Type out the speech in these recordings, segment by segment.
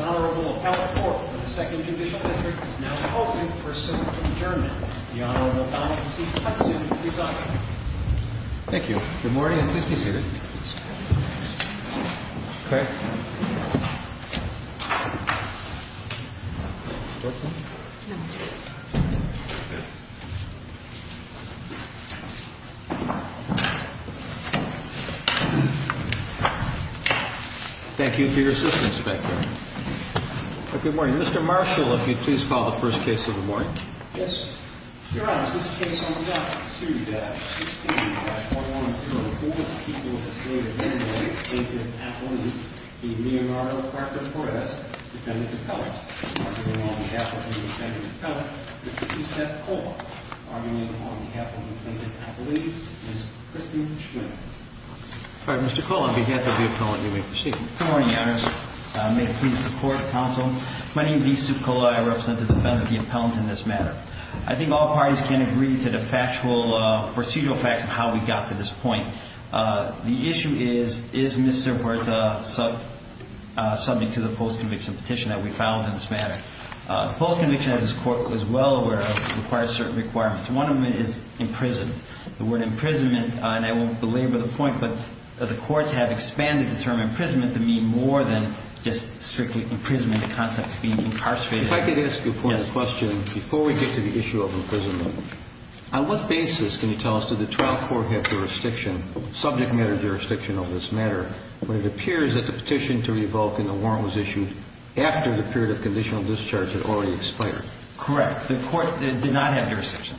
Honorable Appellate Court of the 2nd Judicial District is now open for assembly adjournment. Thank you for your assistance, Inspector. Good morning. Mr. Marshall, if you'd please call the first case of the morning. Yes, Your Honor, this case on block 2-16 by 4104, people of the state of Illinois, plaintiff appellant, the Leonardo Parker Perez, defendant appellant. Arming him on behalf of the defendant appellant, Mr. Joseph Kola. Arming him on behalf of the plaintiff appellate, Ms. Christine Schmidt. Mr. Kola, on behalf of the appellant, you may proceed. Good morning, Your Honors. May it please the Court, Counsel. My name is Mr. Kola. I represent the defendant appellant in this matter. I think all parties can agree to the factual procedural facts of how we got to this point. The issue is, is Mr. Huerta subject to the post-conviction petition that we filed in this matter? Post-conviction, as this Court is well aware of, requires certain requirements. One of them is imprisonment. The word imprisonment, and I won't belabor the point, but the courts have expanded the term imprisonment to mean more than just strictly imprisonment, the concept of being incarcerated. If I could ask you one question before we get to the issue of imprisonment. On what basis can you tell us, did the trial court have jurisdiction, subject matter jurisdiction of this matter, when it appears that the petition to revoke and the warrant was issued after the period of conditional discharge had already expired? Correct. The court did not have jurisdiction.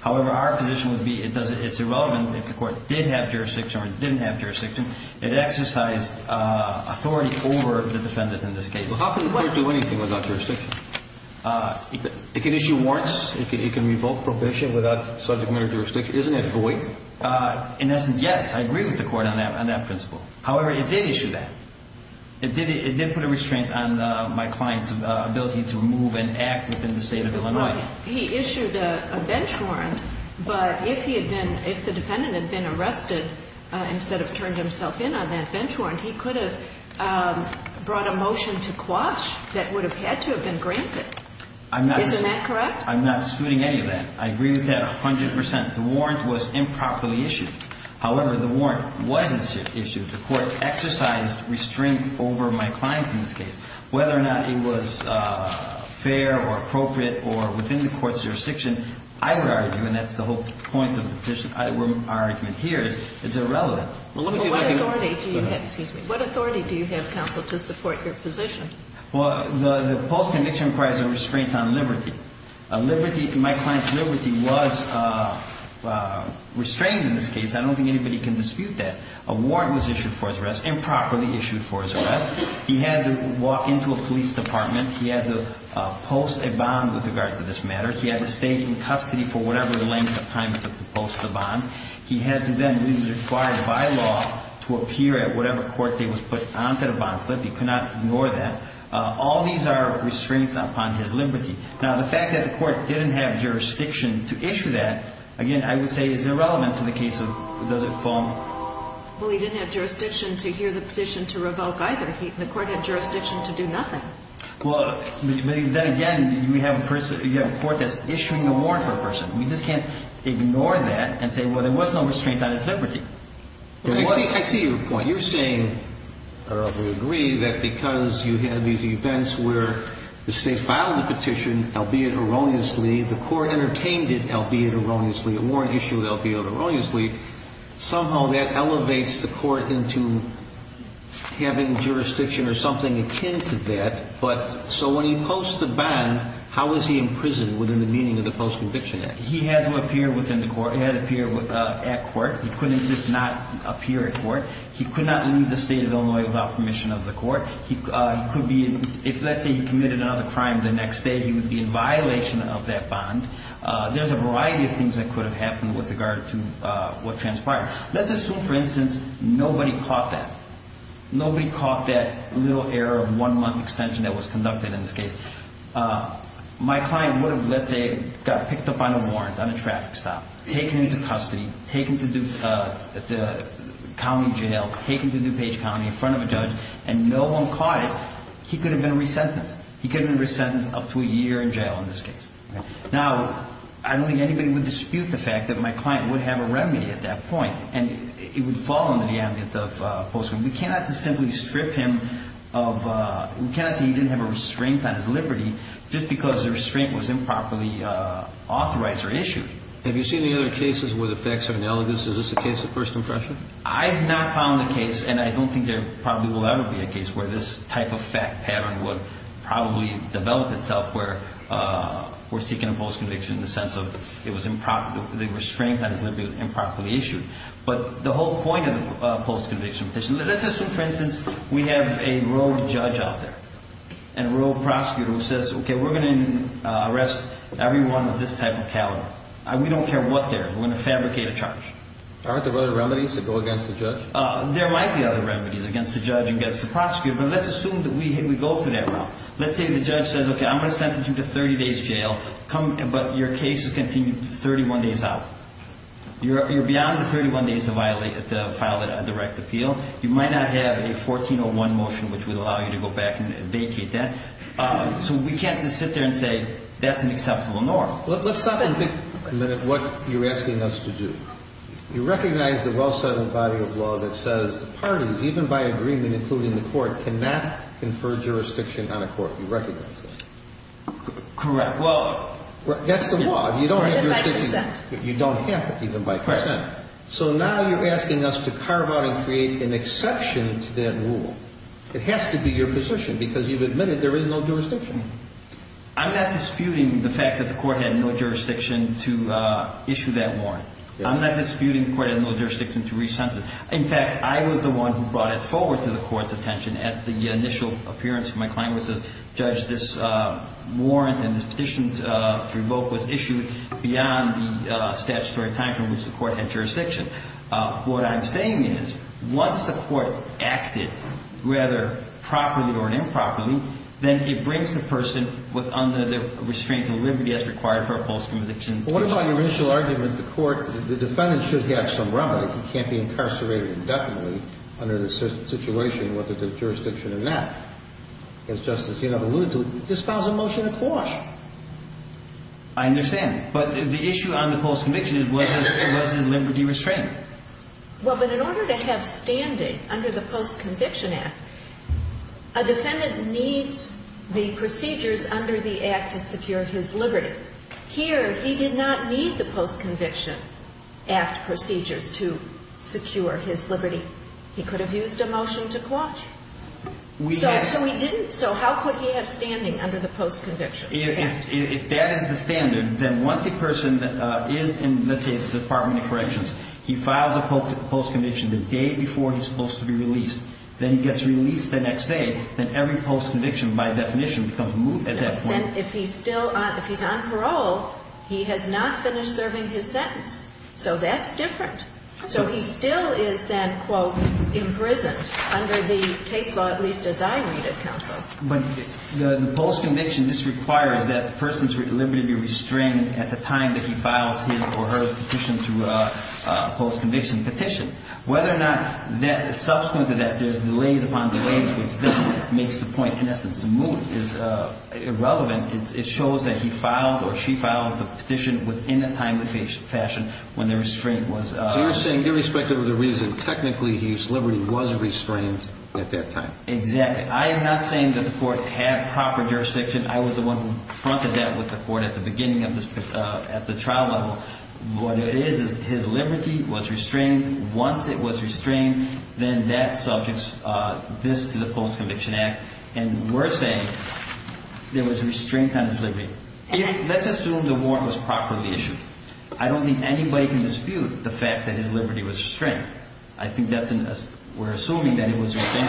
However, our position would be it's irrelevant if the court did have jurisdiction or didn't have jurisdiction. It exercised authority over the defendant in this case. How can the court do anything without jurisdiction? It can issue warrants. It can revoke probation without subject matter jurisdiction. Isn't it void? In essence, yes. I agree with the court on that principle. However, it did issue that. It did put a restraint on my client's ability to move and act within the state of Illinois. He issued a bench warrant, but if he had been, if the defendant had been arrested instead of turned himself in on that bench warrant, he could have brought a motion to quash that would have had to have been granted. Isn't that correct? I'm not scooting any of that. I agree with that 100%. The warrant was improperly issued. However, the warrant wasn't issued. The court exercised restraint over my client in this case. Whether or not it was fair or appropriate or within the court's jurisdiction, I would argue, and that's the whole point of the petition, our argument here is it's irrelevant. What authority do you have, counsel, to support your position? Well, the post-conviction requires a restraint on liberty. Liberty, my client's liberty was restrained in this case. I don't think anybody can dispute that. A warrant was issued for his arrest, improperly issued for his arrest. He had to walk into a police department. He had to post a bond with regard to this matter. He had to stay in custody for whatever length of time it took to post the bond. He had to then be required by law to appear at whatever court date was put on that bond slip. He could not ignore that. All these are restraints upon his liberty. Now, the fact that the court didn't have jurisdiction to issue that, again, I would say is irrelevant in the case of the foam. Well, he didn't have jurisdiction to hear the petition to revoke either. The court had jurisdiction to do nothing. Well, then again, you have a court that's issuing a warrant for a person. You just can't ignore that and say, well, there was no restraint on his liberty. I see your point. You're saying, I roughly agree, that because you had these events where the state filed the petition, albeit erroneously, the court entertained it, albeit erroneously, a warrant issued, albeit erroneously, somehow that elevates the court into having jurisdiction or something akin to that. So when he posts the bond, how is he imprisoned within the meaning of the Post-Conviction Act? He had to appear at court. He couldn't just not appear at court. He could not leave the state of Illinois without permission of the court. If, let's say, he committed another crime the next day, he would be in violation of that bond. There's a variety of things that could have happened with regard to what transpired. Let's assume, for instance, nobody caught that. Nobody caught that little error of one-month extension that was conducted in this case. My client would have, let's say, got picked up on a warrant on a traffic stop, taken into custody, taken to the county jail, taken to DuPage County in front of a judge, and no one caught it, he could have been resentenced. He could have been resentenced up to a year in jail in this case. Now, I don't think anybody would dispute the fact that my client would have a remedy at that point, and it would fall under the ambit of Post-Conviction. We cannot just simply strip him of, we cannot say he didn't have a restraint on his liberty just because the restraint was improperly authorized or issued. Have you seen any other cases where the facts are analogous? Is this a case of first impression? I have not found the case, and I don't think there probably will ever be a case where this type of fact pattern would probably develop itself where we're seeking a Post-Conviction in the sense of it was improper, the restraint on his liberty was improperly issued. But the whole point of the Post-Conviction petition, let's assume, for instance, we have a rogue judge out there and a rogue prosecutor who says, okay, we're going to arrest everyone with this type of caliber. We don't care what they're, we're going to fabricate a charge. Aren't there other remedies that go against the judge? There might be other remedies against the judge and against the prosecutor, but let's assume that we go through that route. Let's say the judge says, okay, I'm going to sentence you to 30 days jail, but your case is continued 31 days out. You're beyond the 31 days to file a direct appeal. You might not have a 1401 motion which would allow you to go back and vacate that. So we can't just sit there and say that's an acceptable norm. Let's stop and think a minute what you're asking us to do. You recognize the well-settled body of law that says the parties, even by agreement, including the court, cannot confer jurisdiction on a court. You recognize that. Correct. Well, that's the law. You don't have jurisdiction. Even by percent. You don't have it, even by percent. Right. So now you're asking us to carve out and create an exception to that rule. It has to be your position because you've admitted there is no jurisdiction. I'm not disputing the fact that the court had no jurisdiction to issue that warrant. I'm not disputing the court had no jurisdiction to rescind it. In fact, I was the one who brought it forward to the court's attention at the initial appearance. My client was the judge. This warrant and this petition to revoke was issued beyond the statutory time from which the court had jurisdiction. What I'm saying is once the court acted, whether properly or improperly, then it brings the person under the restraints of liberty as required for a post-conviction. Well, what about your initial argument that the defendant should have some remedy? He can't be incarcerated indefinitely under the situation where there's a jurisdiction in that. As Justice Yenov alluded to, it dispels a motion of clause. I understand. But the issue on the post-conviction was his liberty restraint. Well, but in order to have standing under the post-conviction act, a defendant needs the procedures under the act to secure his liberty. Here, he did not need the post-conviction act procedures to secure his liberty. He could have used a motion to clause. So he didn't. So how could he have standing under the post-conviction act? If that is the standard, then once a person is in, let's say, the Department of Corrections, he files a post-conviction the day before he's supposed to be released. Then he gets released the next day. Then every post-conviction, by definition, becomes moot at that point. And then if he's still on, if he's on parole, he has not finished serving his sentence. So that's different. So he still is then, quote, imprisoned under the case law, at least as I read it, counsel. But the post-conviction just requires that the person's liberty be restrained at the time that he files his or her petition to a post-conviction petition. Whether or not that is subsequent to that, there's delays upon delays, which then makes the point, in essence, moot is irrelevant. It shows that he filed or she filed the petition within the time, the fashion, when the restraint was. So you're saying, irrespective of the reason, technically his liberty was restrained at that time. Exactly. I am not saying that the court had proper jurisdiction. I was the one who confronted that with the court at the beginning of this, at the trial level. What it is, is his liberty was restrained. Once it was restrained, then that subjects this to the Post-Conviction Act. And we're saying there was restraint on his liberty. Let's assume the warrant was properly issued. I don't think anybody can dispute the fact that his liberty was restrained. I think that's an assumption. We're assuming that it was restrained.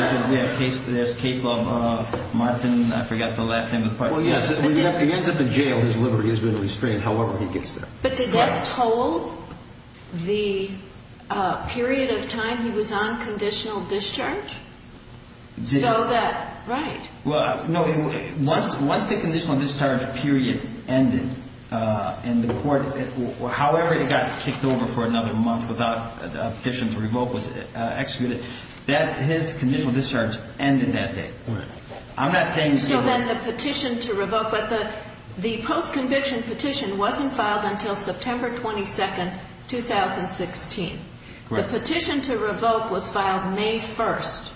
There's case law, Martin, I forgot the last name of the person. Well, yes. He ends up in jail. His liberty has been restrained, however he gets there. But did that toll the period of time he was on conditional discharge? So that, right. Well, no. Once the conditional discharge period ended and the court, however it got kicked over for another month without a petition to revoke was executed, his conditional discharge ended that day. Right. I'm not saying so. Other than the petition to revoke, but the post-conviction petition wasn't filed until September 22, 2016. Right. The petition to revoke was filed May 1st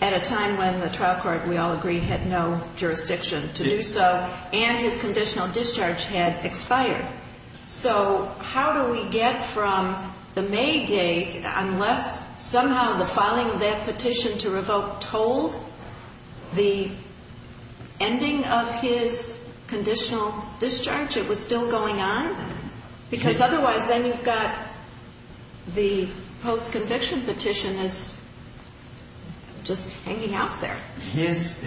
at a time when the trial court, we all agree, had no jurisdiction to do so, and his conditional discharge had expired. So how do we get from the May date, unless somehow the filing of that petition to revoke told the ending of his conditional discharge, it was still going on? Because otherwise then you've got the post-conviction petition as just hanging out there. His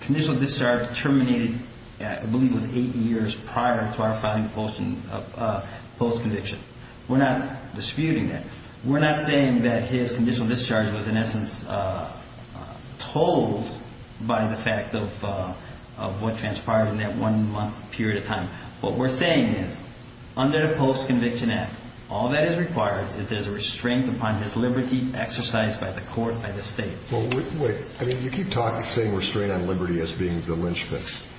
conditional discharge terminated, I believe, was eight years prior to our filing of post-conviction. We're not disputing that. We're not saying that his conditional discharge was in essence told by the fact of what transpired in that one month period of time. What we're saying is under the Post-Conviction Act, all that is required is there's a restraint upon his liberty exercised by the court, by the state. Well, wait. I mean, you keep saying restraint on liberty as being the lynchpin.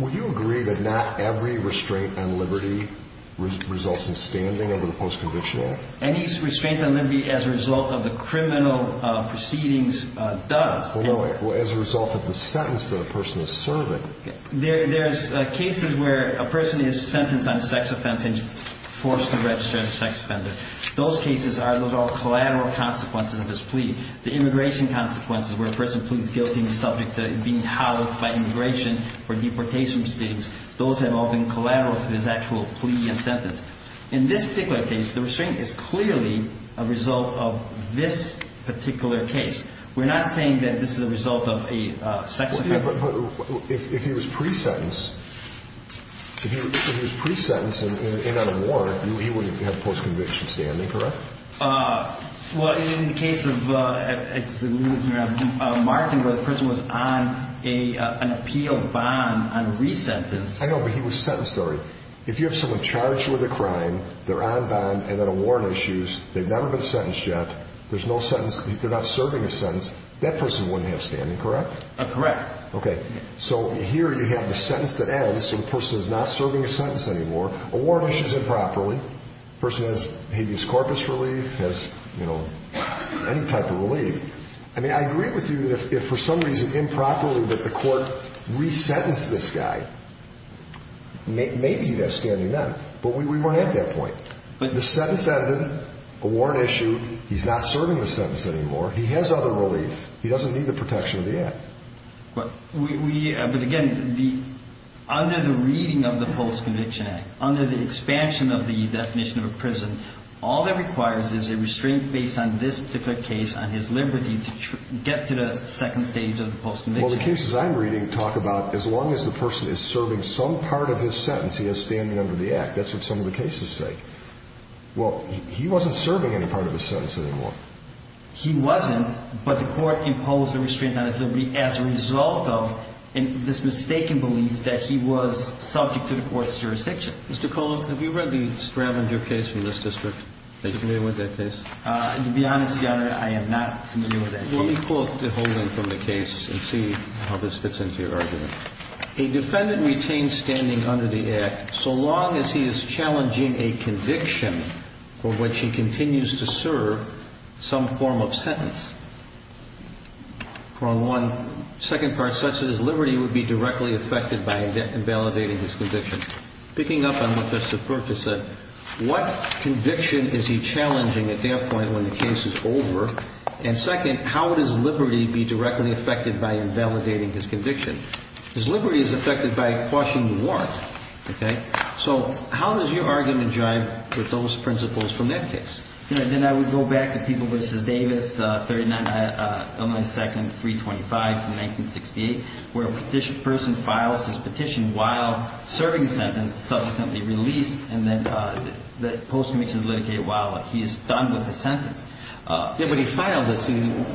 Would you agree that not every restraint on liberty results in standing under the Post-Conviction Act? Any restraint on liberty as a result of the criminal proceedings does. Well, no, as a result of the sentence that a person is serving. There's cases where a person is sentenced on a sex offense and is forced to register as a sex offender. Those cases are, those are all collateral consequences of his plea. The immigration consequences where a person pleads guilty and is subject to being housed by immigration for deportation proceedings, those have all been collateral to his actual plea and sentence. In this particular case, the restraint is clearly a result of this particular case. We're not saying that this is a result of a sex offense. But if he was pre-sentenced, if he was pre-sentenced and in on a warrant, he would have post-conviction standing, correct? Well, in the case of Martin, the person was on an appeal bond on re-sentence. I know, but he was sentenced already. If you have someone charged with a crime, they're on bond, and then a warrant issues, they've never been sentenced yet, there's no sentence, they're not serving a sentence, that person wouldn't have standing, correct? Correct. Okay. So here you have the sentence that ends, so the person is not serving a sentence anymore. A warrant issues improperly. The person has habeas corpus relief, has, you know, any type of relief. I mean, I agree with you that if for some reason improperly that the court re-sentenced this guy, maybe he'd have standing then, but we weren't at that point. The sentence ended, a warrant issued, he's not serving the sentence anymore, he has other relief. He doesn't need the protection of the act. But again, under the reading of the Post-Conviction Act, under the expansion of the definition of a prison, all that requires is a restraint based on this particular case on his liberty to get to the second stage of the post-conviction. Well, the cases I'm reading talk about as long as the person is serving some part of his sentence, he has standing under the act. That's what some of the cases say. Well, he wasn't serving any part of his sentence anymore. He wasn't, but the court imposed a restraint on his liberty as a result of this mistaken belief that he was subject to the court's jurisdiction. Mr. Colon, have you read the Stravinger case from this district? Are you familiar with that case? To be honest, Your Honor, I am not familiar with that case. Let me quote the whole thing from the case and see how this fits into your argument. A defendant retains standing under the act so long as he is challenging a conviction for which he continues to serve some form of sentence. Part one. Second part says that his liberty would be directly affected by invalidating his conviction. Picking up on what Mr. Perkins said, what conviction is he challenging at that point when the case is over? And second, how would his liberty be directly affected by invalidating his conviction? His liberty is affected by quashing the warrant. Okay? So how does your argument jive with those principles from that case? Then I would go back to People v. Davis, 39 Illinois 2nd, 325, from 1968, where a person files his petition while serving the sentence, subsequently released, and then the post-conviction is litigated while he is done with his sentence. Yes, but he filed it.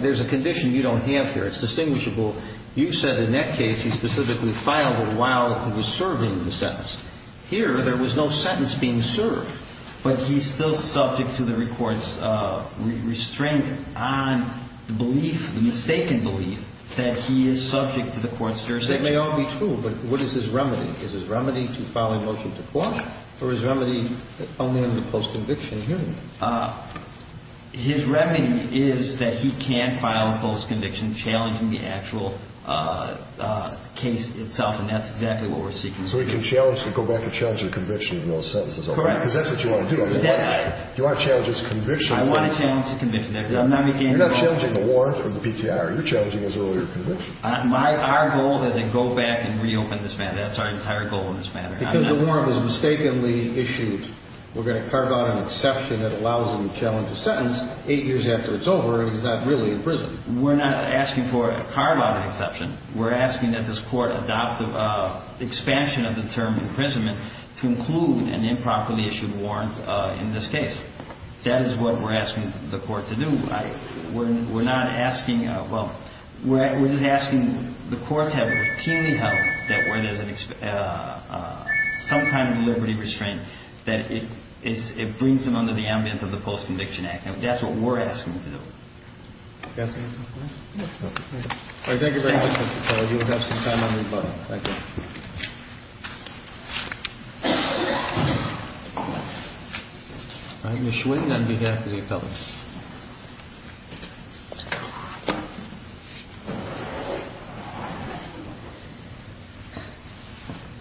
There's a condition you don't have here. It's distinguishable. You said in that case he specifically filed it while he was serving the sentence. Here, there was no sentence being served. But he's still subject to the Court's restraint on belief, the mistaken belief, that he is subject to the Court's jurisdiction. That may all be true, but what is his remedy? Is his remedy to file a motion to quash, or is his remedy only in the post-conviction hearing? His remedy is that he can file a post-conviction challenging the actual case itself, and that's exactly what we're seeking to do. So he can go back and challenge the conviction of no sentences. Correct. Because that's what you want to do. You want to challenge his conviction. I want to challenge the conviction. You're not challenging the warrant or the PTR. You're challenging his earlier conviction. Our goal is to go back and reopen this matter. That's our entire goal in this matter. Because the warrant was mistakenly issued, we're going to carve out an exception that allows him to challenge a sentence eight years after it's over and he's not really in prison. We're not asking for a carve-out exception. We're asking that this Court adopt the expansion of the term imprisonment to include an improperly issued warrant in this case. That is what we're asking the Court to do. We're not asking, well, we're just asking the Court to have it routinely held that where there's some kind of liberty restraint, that it brings him under the ambience of the Post-Conviction Act. That's what we're asking to do. Thank you very much, Mr. Keller. Thank you. All right, Ms. Schwinn, on behalf of the appellants.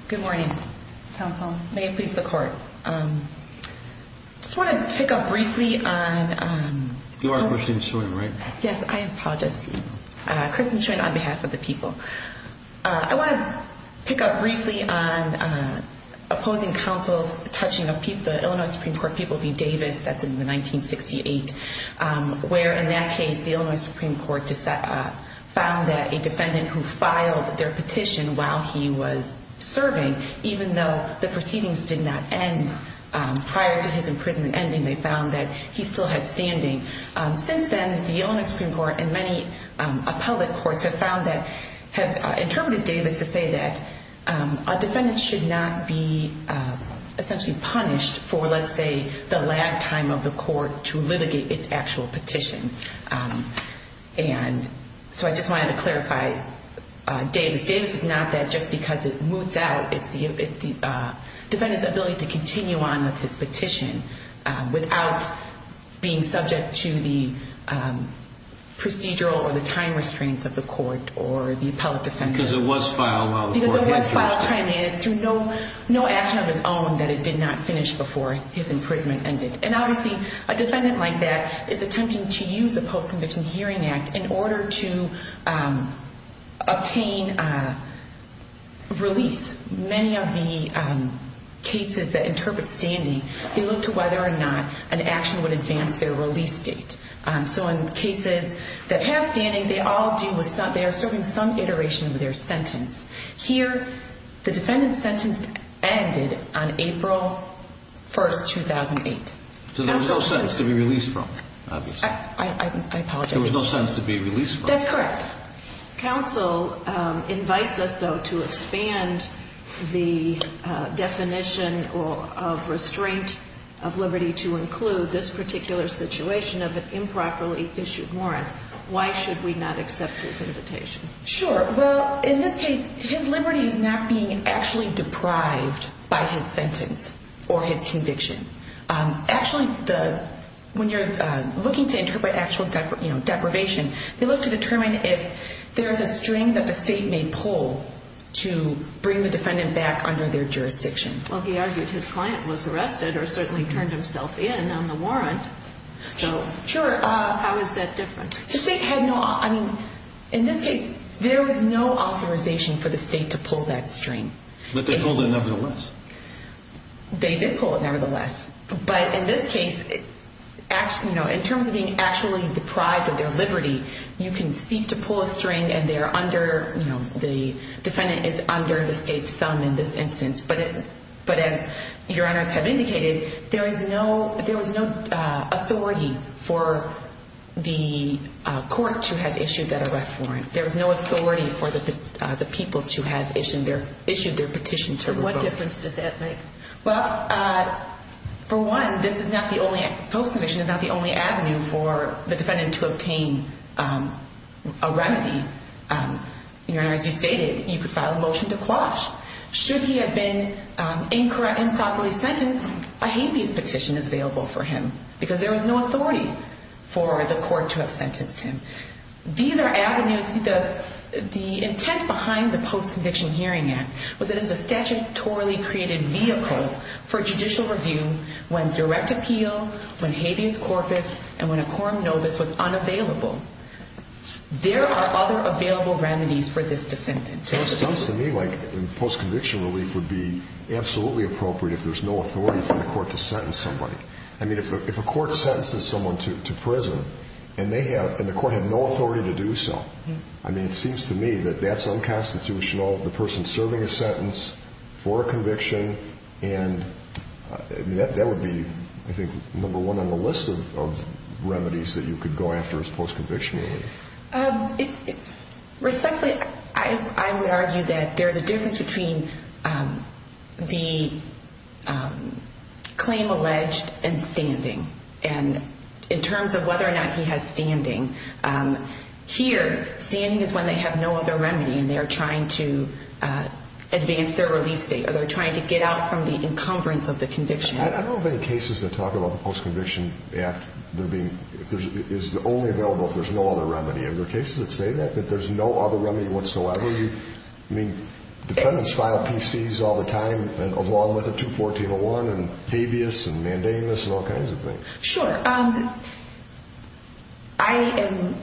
Good morning, Counsel. May it please the Court. I just want to pick up briefly on... You are Kristen Schwinn, right? Yes, I apologize. Kristen Schwinn, on behalf of the people. I want to pick up briefly on opposing counsel's touching of the Illinois Supreme Court people v. Davis. That's in 1968, where in that case, the Illinois Supreme Court found that a defendant who filed their petition while he was serving, even though the proceedings did not end prior to his imprisonment ending, they found that he still had standing. Since then, the Illinois Supreme Court and many appellate courts have found that, have interpreted Davis to say that a defendant should not be essentially punished for, let's say, the last time of the court to litigate its actual petition. And so I just wanted to clarify Davis. Davis is not that just because it moots out. It's the defendant's ability to continue on with his petition without being subject to the procedural or the time restraints of the court or the appellate defendant. Because it was filed while the court litigated it. Because it was filed timely, and it's through no action of his own that it did not finish before his imprisonment ended. And obviously, a defendant like that is attempting to use the Post-Conviction Hearing Act in order to obtain release. Many of the cases that interpret standing, they look to whether or not an action would advance their release date. So in cases that have standing, they all deal with some, they are serving some iteration of their sentence. Here, the defendant's sentence ended on April 1st, 2008. So there was no sentence to be released from, obviously. I apologize. There was no sentence to be released from. That's correct. Counsel invites us, though, to expand the definition of restraint of liberty to include this particular situation of an improperly issued warrant. Why should we not accept his invitation? Sure. Well, in this case, his liberty is not being actually deprived by his sentence or his conviction. Actually, when you're looking to interpret actual deprivation, they look to determine if there is a string that the state may pull to bring the defendant back under their jurisdiction. Well, he argued his client was arrested or certainly turned himself in on the warrant. Sure. How is that different? The state had no, I mean, in this case, there was no authorization for the state to pull that string. But they pulled it nevertheless. They did pull it nevertheless. But in this case, you know, in terms of being actually deprived of their liberty, you can seek to pull a string and they're under, you know, the defendant is under the state's thumb in this instance. But as your honors have indicated, there was no authority for the court to have issued that arrest warrant. There was no authority for the people to have issued their petition to revoke it. What difference did that make? Well, for one, this is not the only, the post-commission is not the only avenue for the defendant to obtain a remedy. Your honors, you stated you could file a motion to quash. Should he have been incura improperly sentenced, a habeas petition is available for him because there was no authority for the court to have sentenced him. These are avenues, the intent behind the Post-Conviction Hearing Act was that it was a statutorily created vehicle for judicial review when direct appeal, when habeas corpus, and when a quorum novus was unavailable. There are other available remedies for this defendant. Sounds to me like post-conviction relief would be absolutely appropriate if there's no authority for the court to sentence somebody. I mean, if a court sentences someone to prison and they have, and the court had no authority to do so, I mean, it seems to me that that's unconstitutional, the person serving a sentence for a conviction, and that would be, I think, number one on the list of remedies that you could go after as post-conviction relief. Respectfully, I would argue that there's a difference between the claim alleged and standing. And in terms of whether or not he has standing, here, standing is when they have no other remedy and they're trying to advance their release date or they're trying to get out from the encumbrance of the conviction. I don't know of any cases that talk about the Post-Conviction Act being, is only available if there's no other remedy. Are there cases that say that, that there's no other remedy whatsoever? I mean, defendants file PCs all the time along with a 214-01 and habeas and mandamus and all kinds of things. Sure. I am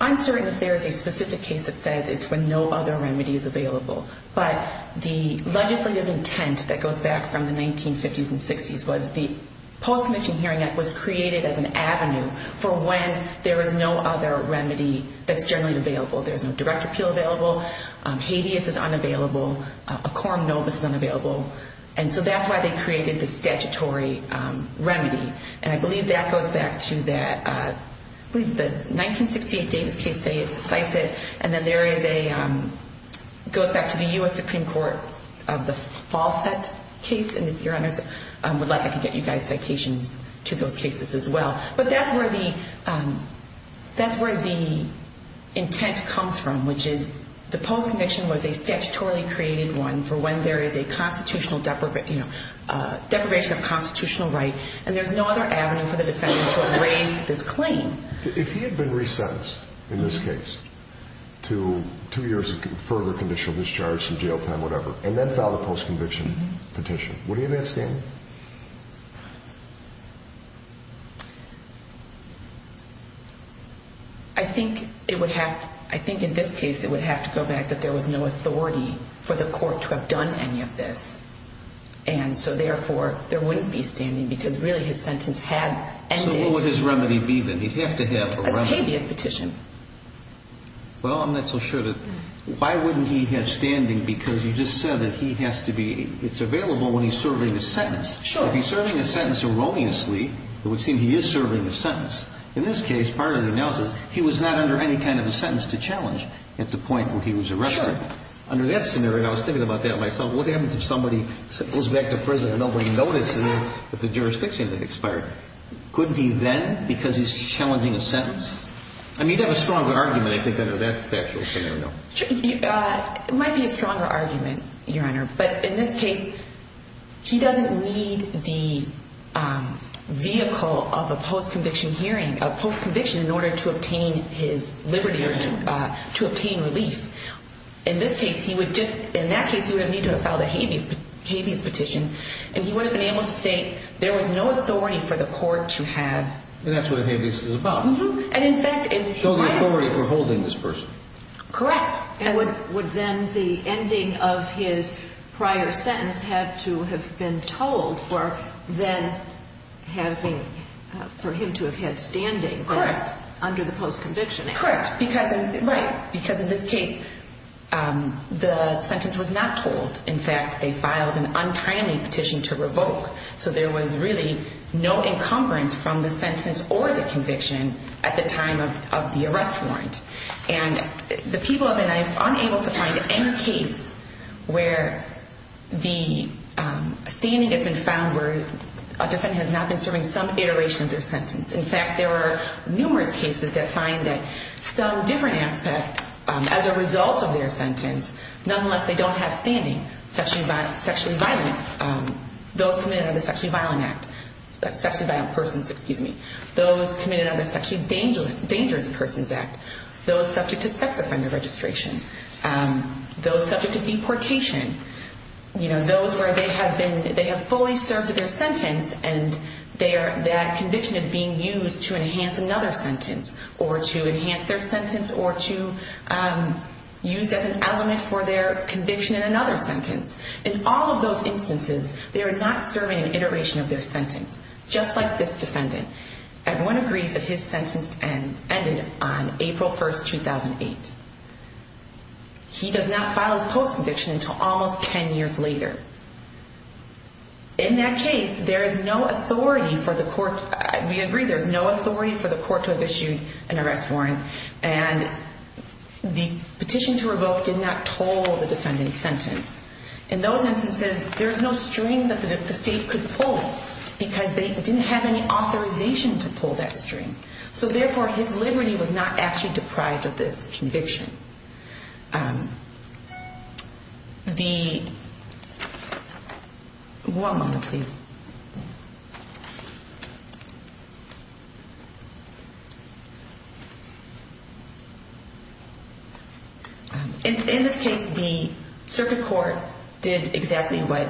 uncertain if there is a specific case that says it's when no other remedy is available. But the legislative intent that goes back from the 1950s and 60s was the Post-Conviction Hearing Act was created as an avenue for when there is no other remedy that's generally available. There's no direct appeal available. Habeas is unavailable. A quorum novus is unavailable. And so that's why they created the statutory remedy. And I believe that goes back to that, I believe the 1968 Davis case cites it. And then there is a, goes back to the U.S. Supreme Court of the Fawcett case. And if Your Honors would like, I can get you guys citations to those cases as well. But that's where the intent comes from, which is the post-conviction was a statutorily created one for when there is a constitutional deprivation of constitutional right, and there's no other avenue for the defendant to have raised this claim. If he had been resentenced in this case to two years of further conditional discharge, some jail time, whatever, and then filed a post-conviction petition, would he have had standing? I think it would have, I think in this case it would have to go back that there was no authority for the court to have done any of this. And so therefore there wouldn't be standing because really his sentence had ended. Well, then what would his remedy be then? He'd have to have a remedy. It's a habeas petition. Well, I'm not so sure that, why wouldn't he have standing because you just said that he has to be, it's available when he's serving a sentence. Sure. If he's serving a sentence erroneously, it would seem he is serving a sentence. In this case, part of the analysis, he was not under any kind of a sentence to challenge at the point where he was arrested. Sure. Under that scenario, I was thinking about that myself, what happens if somebody goes back to prison and nobody notices that the jurisdiction had expired? Couldn't he then, because he's challenging a sentence? I mean, you'd have a stronger argument, I think, under that scenario. It might be a stronger argument, Your Honor, but in this case, he doesn't need the vehicle of a post-conviction hearing, a post-conviction in order to obtain his liberty or to obtain relief. In this case, he would just, in that case, he would have needed to have filed a habeas petition, and he would have been able to state there was no authority for the court to have. And that's what a habeas is about. So the authority for holding this person. Correct. Would then the ending of his prior sentence have to have been told for him to have had standing under the post-conviction? Correct. Because in this case, the sentence was not told. In fact, they filed an untimely petition to revoke. So there was really no encumbrance from the sentence or the conviction at the time of the arrest warrant. And the people have been unable to find any case where the standing has been found where a defendant has not been serving some iteration of their sentence. In fact, there are numerous cases that find that some different aspect as a result of their sentence, nonetheless, they don't have standing. Sexually violent. Those committed under the Sexually Violent Act. Sexually violent persons, excuse me. Those committed under the Sexually Dangerous Persons Act. Those subject to sex offender registration. Those subject to deportation. Those where they have fully served their sentence and that conviction is being used to enhance another sentence. Or to enhance their sentence or to use as an element for their conviction in another sentence. In all of those instances, they are not serving an iteration of their sentence. Just like this defendant. Everyone agrees that his sentence ended on April 1, 2008. He does not file his post conviction until almost 10 years later. In that case, there is no authority for the court. We agree there is no authority for the court to have issued an arrest warrant. And the petition to revoke did not toll the defendant's sentence. In those instances, there is no string that the state could pull because they didn't have any authorization to pull that string. So therefore, his liberty was not actually deprived of this conviction. In this case, the circuit court did exactly what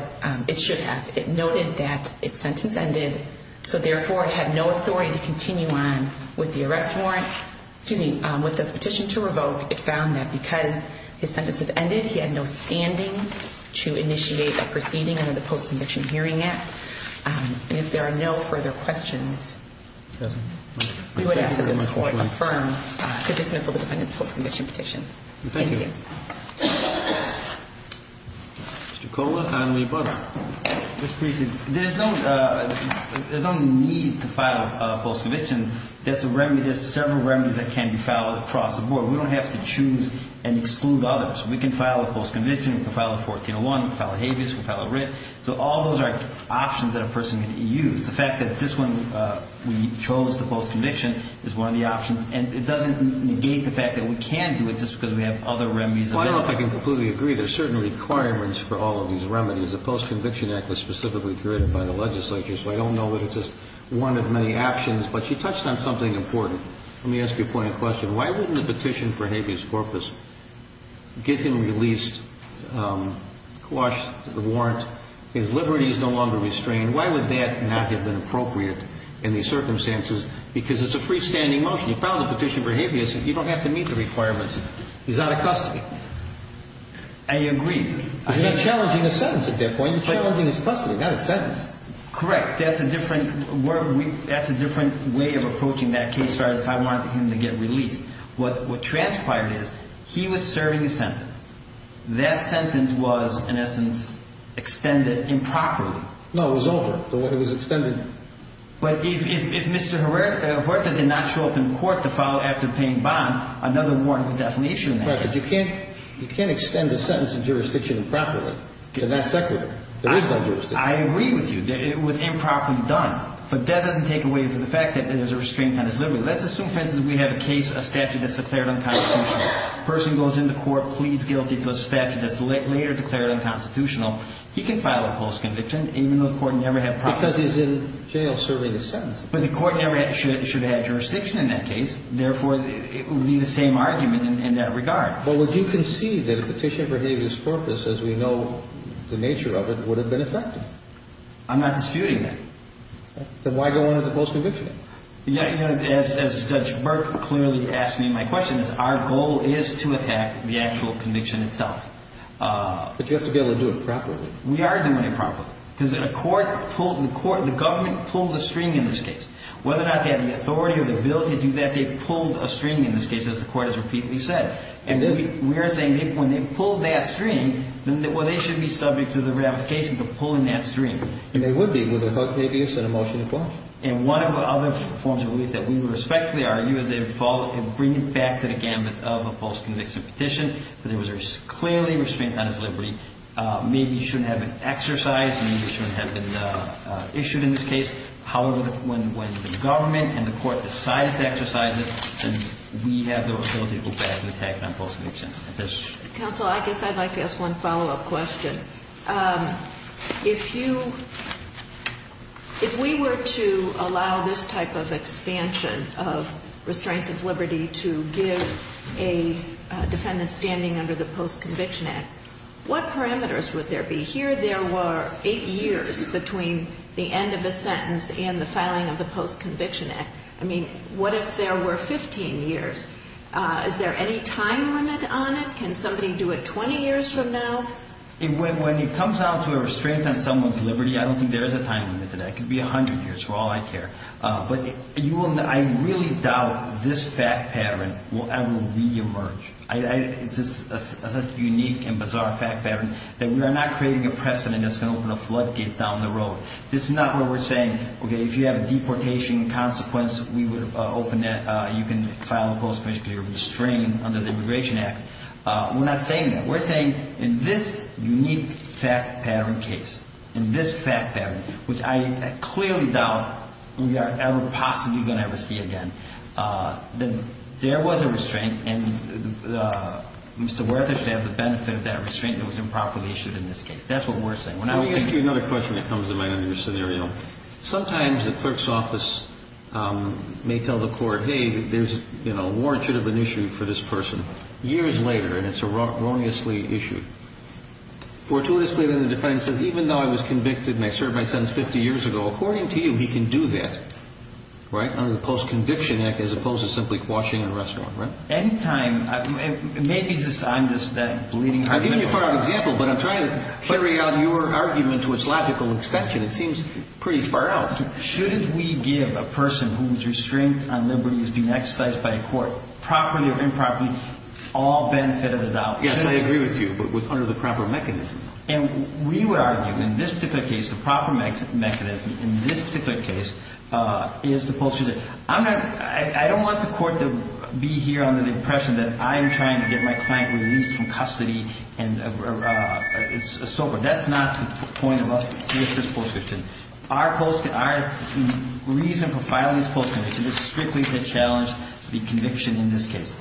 it should have. It noted that its sentence ended. So therefore, it had no authority to continue on with the arrest warrant. Excuse me. With the petition to revoke, it found that because his sentence had ended, he had no standing to initiate a proceeding under the Post Conviction Hearing Act. And if there are no further questions, we would ask that this court affirm the dismissal of the defendant's post conviction petition. Thank you. Thank you. Mr. Coleman and Lee Butler. There is no need to file a post conviction. That's a remedy. There's several remedies that can be filed across the board. We don't have to choose and exclude others. We can file a post conviction. We can file a 1401. We can file a habeas. We can file a writ. So all those are options that a person can use. The fact that this one, we chose the post conviction, is one of the options. And it doesn't negate the fact that we can do it just because we have other remedies available. Well, I don't know if I can completely agree. There are certain requirements for all of these remedies. The Post Conviction Act was specifically created by the legislature. So I don't know that it's just one of many options. But she touched on something important. Let me ask you a point of question. Why wouldn't a petition for habeas corpus get him released, quash the warrant, his liberties no longer restrained? Why would that not have been appropriate in these circumstances? Because it's a freestanding motion. You filed a petition for habeas. You don't have to meet the requirements. He's out of custody. I agree. You're not challenging a sentence at that point. You're challenging his custody. Not a sentence. Correct. That's a different way of approaching that case. As far as if I wanted him to get released. What transpired is he was serving a sentence. That sentence was, in essence, extended improperly. No, it was over. It was extended. But if Mr. Huerta did not show up in court to file after paying bond, another warrant would definitely issue in that case. Right. Because you can't extend a sentence in jurisdiction improperly to that secretary. There is no jurisdiction. I agree with you. It was improperly done. But that doesn't take away from the fact that there's a restraint on his liberty. Let's assume, for instance, we have a case, a statute that's declared unconstitutional. A person goes into court, pleads guilty to a statute that's later declared unconstitutional. He can file a false conviction, even though the court never had proper. Because he's in jail serving a sentence. But the court never should have jurisdiction in that case. Therefore, it would be the same argument in that regard. Well, would you concede that a petition for habeas corpus, as we know the nature of it, would have been effective? I'm not disputing that. Then why go into the false conviction? Yeah, you know, as Judge Burke clearly asked me in my questions, our goal is to attack the actual conviction itself. But you have to be able to do it properly. We are doing it properly. Because the court pulled the court, the government pulled the string in this case. Whether or not they had the authority or the ability to do that, they pulled a string in this case, as the court has repeatedly said. And we are saying when they pulled that string, well, they should be subject to the ramifications of pulling that string. And they would be with a habeas and a motion to file. And one of the other forms of relief that we would respectfully argue is they would bring it back to the gambit of a false conviction petition. But there was clearly restraint on his liberty. Maybe he shouldn't have been exercised. Maybe he shouldn't have been issued in this case. However, when the government and the court decided to exercise it, then we have the ability to go back and attack that false conviction. Counsel, I guess I'd like to ask one follow-up question. If you, if we were to allow this type of expansion of restraint of liberty to give a defendant standing under the Post-Conviction Act, what parameters would there be? Here there were eight years between the end of the sentence and the filing of the Post-Conviction Act. I mean, what if there were 15 years? Is there any time limit on it? Can somebody do it 20 years from now? When it comes down to a restraint on someone's liberty, I don't think there is a time limit to that. It could be 100 years for all I care. But you will, I really doubt this fact pattern will ever reemerge. It's such a unique and bizarre fact pattern that we are not creating a precedent that's going to open a floodgate down the road. This is not where we're saying, okay, if you have a deportation consequence, we would open that. You can file a post-conviction because you're restrained under the Immigration Act. We're not saying that. We're saying in this unique fact pattern case, in this fact pattern, which I clearly doubt we are ever possibly going to ever see again, that there was a restraint, and Mr. Werther should have the benefit of that restraint that was improperly issued in this case. That's what we're saying. Let me ask you another question that comes to mind on your scenario. Sometimes the clerk's office may tell the court, hey, there's a warrant should have been issued for this person. Years later, and it's erroneously issued. Fortuitously, then, the defendant says, even though I was convicted and I served my sentence 50 years ago, according to you, he can do that. Right? Under the Post-Conviction Act, as opposed to simply quashing an arrest warrant. Anytime. Maybe I'm just that bleeding argument. I've given you a far out example, but I'm trying to carry out your argument to its logical extension. It seems pretty far out. Shouldn't we give a person whose restraint on liberty is being exercised by a court, properly or improperly, all benefit of the doubt? Yes, I agree with you, but under the proper mechanism. And we would argue, in this particular case, the proper mechanism in this particular case is the Post-Conviction Act. I don't want the court to be here under the impression that I'm trying to get my client released from custody and so forth. That's not the point of us with this Post-Conviction. Our reason for filing this Post-Conviction is strictly to challenge the conviction in this case.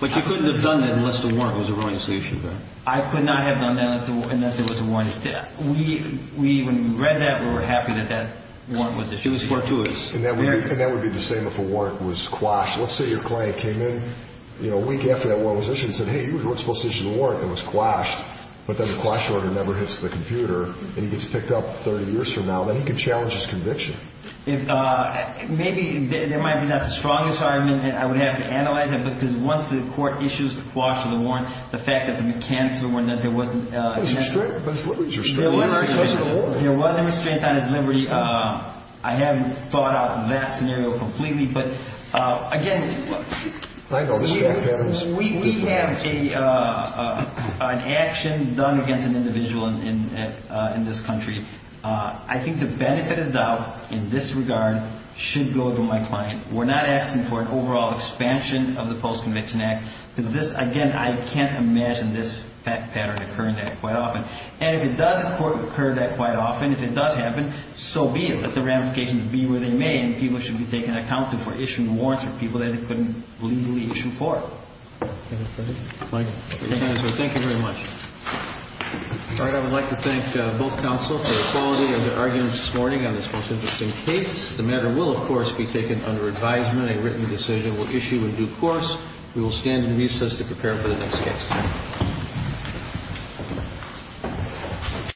But you couldn't have done that unless the warrant was erroneously issued, right? I could not have done that unless there was a warrant issued. When we read that, we were happy that that warrant was issued. It was fortuitous. And that would be the same if a warrant was quashed. Let's say your client came in a week after that warrant was issued and said, hey, you weren't supposed to issue the warrant. It was quashed. But then the quash order never hits the computer, and he gets picked up 30 years from now. Then he can challenge his conviction. Maybe there might not be the strongest argument, and I would have to analyze it, because once the court issues the quash or the warrant, the fact that the mechanics of the warrant, that there wasn't a chance. But his liberties are still there. There was a restraint on his liberty. I haven't thought out that scenario completely. But, again, we have an action done against an individual in this country. I think the benefit of doubt in this regard should go to my client. We're not asking for an overall expansion of the Post-Conviction Act, because this, again, I can't imagine this pattern occurring that quite often. And if it does occur that quite often, if it does happen, so be it. But the ramifications be where they may, and people should be taken account of for issuing warrants for people that they couldn't legally issue for. Thank you very much. All right. I would like to thank both counsel for the quality of their argument this morning on this most interesting case. The matter will, of course, be taken under advisement. A written decision will issue in due course. We will stand in recess to prepare for the next case.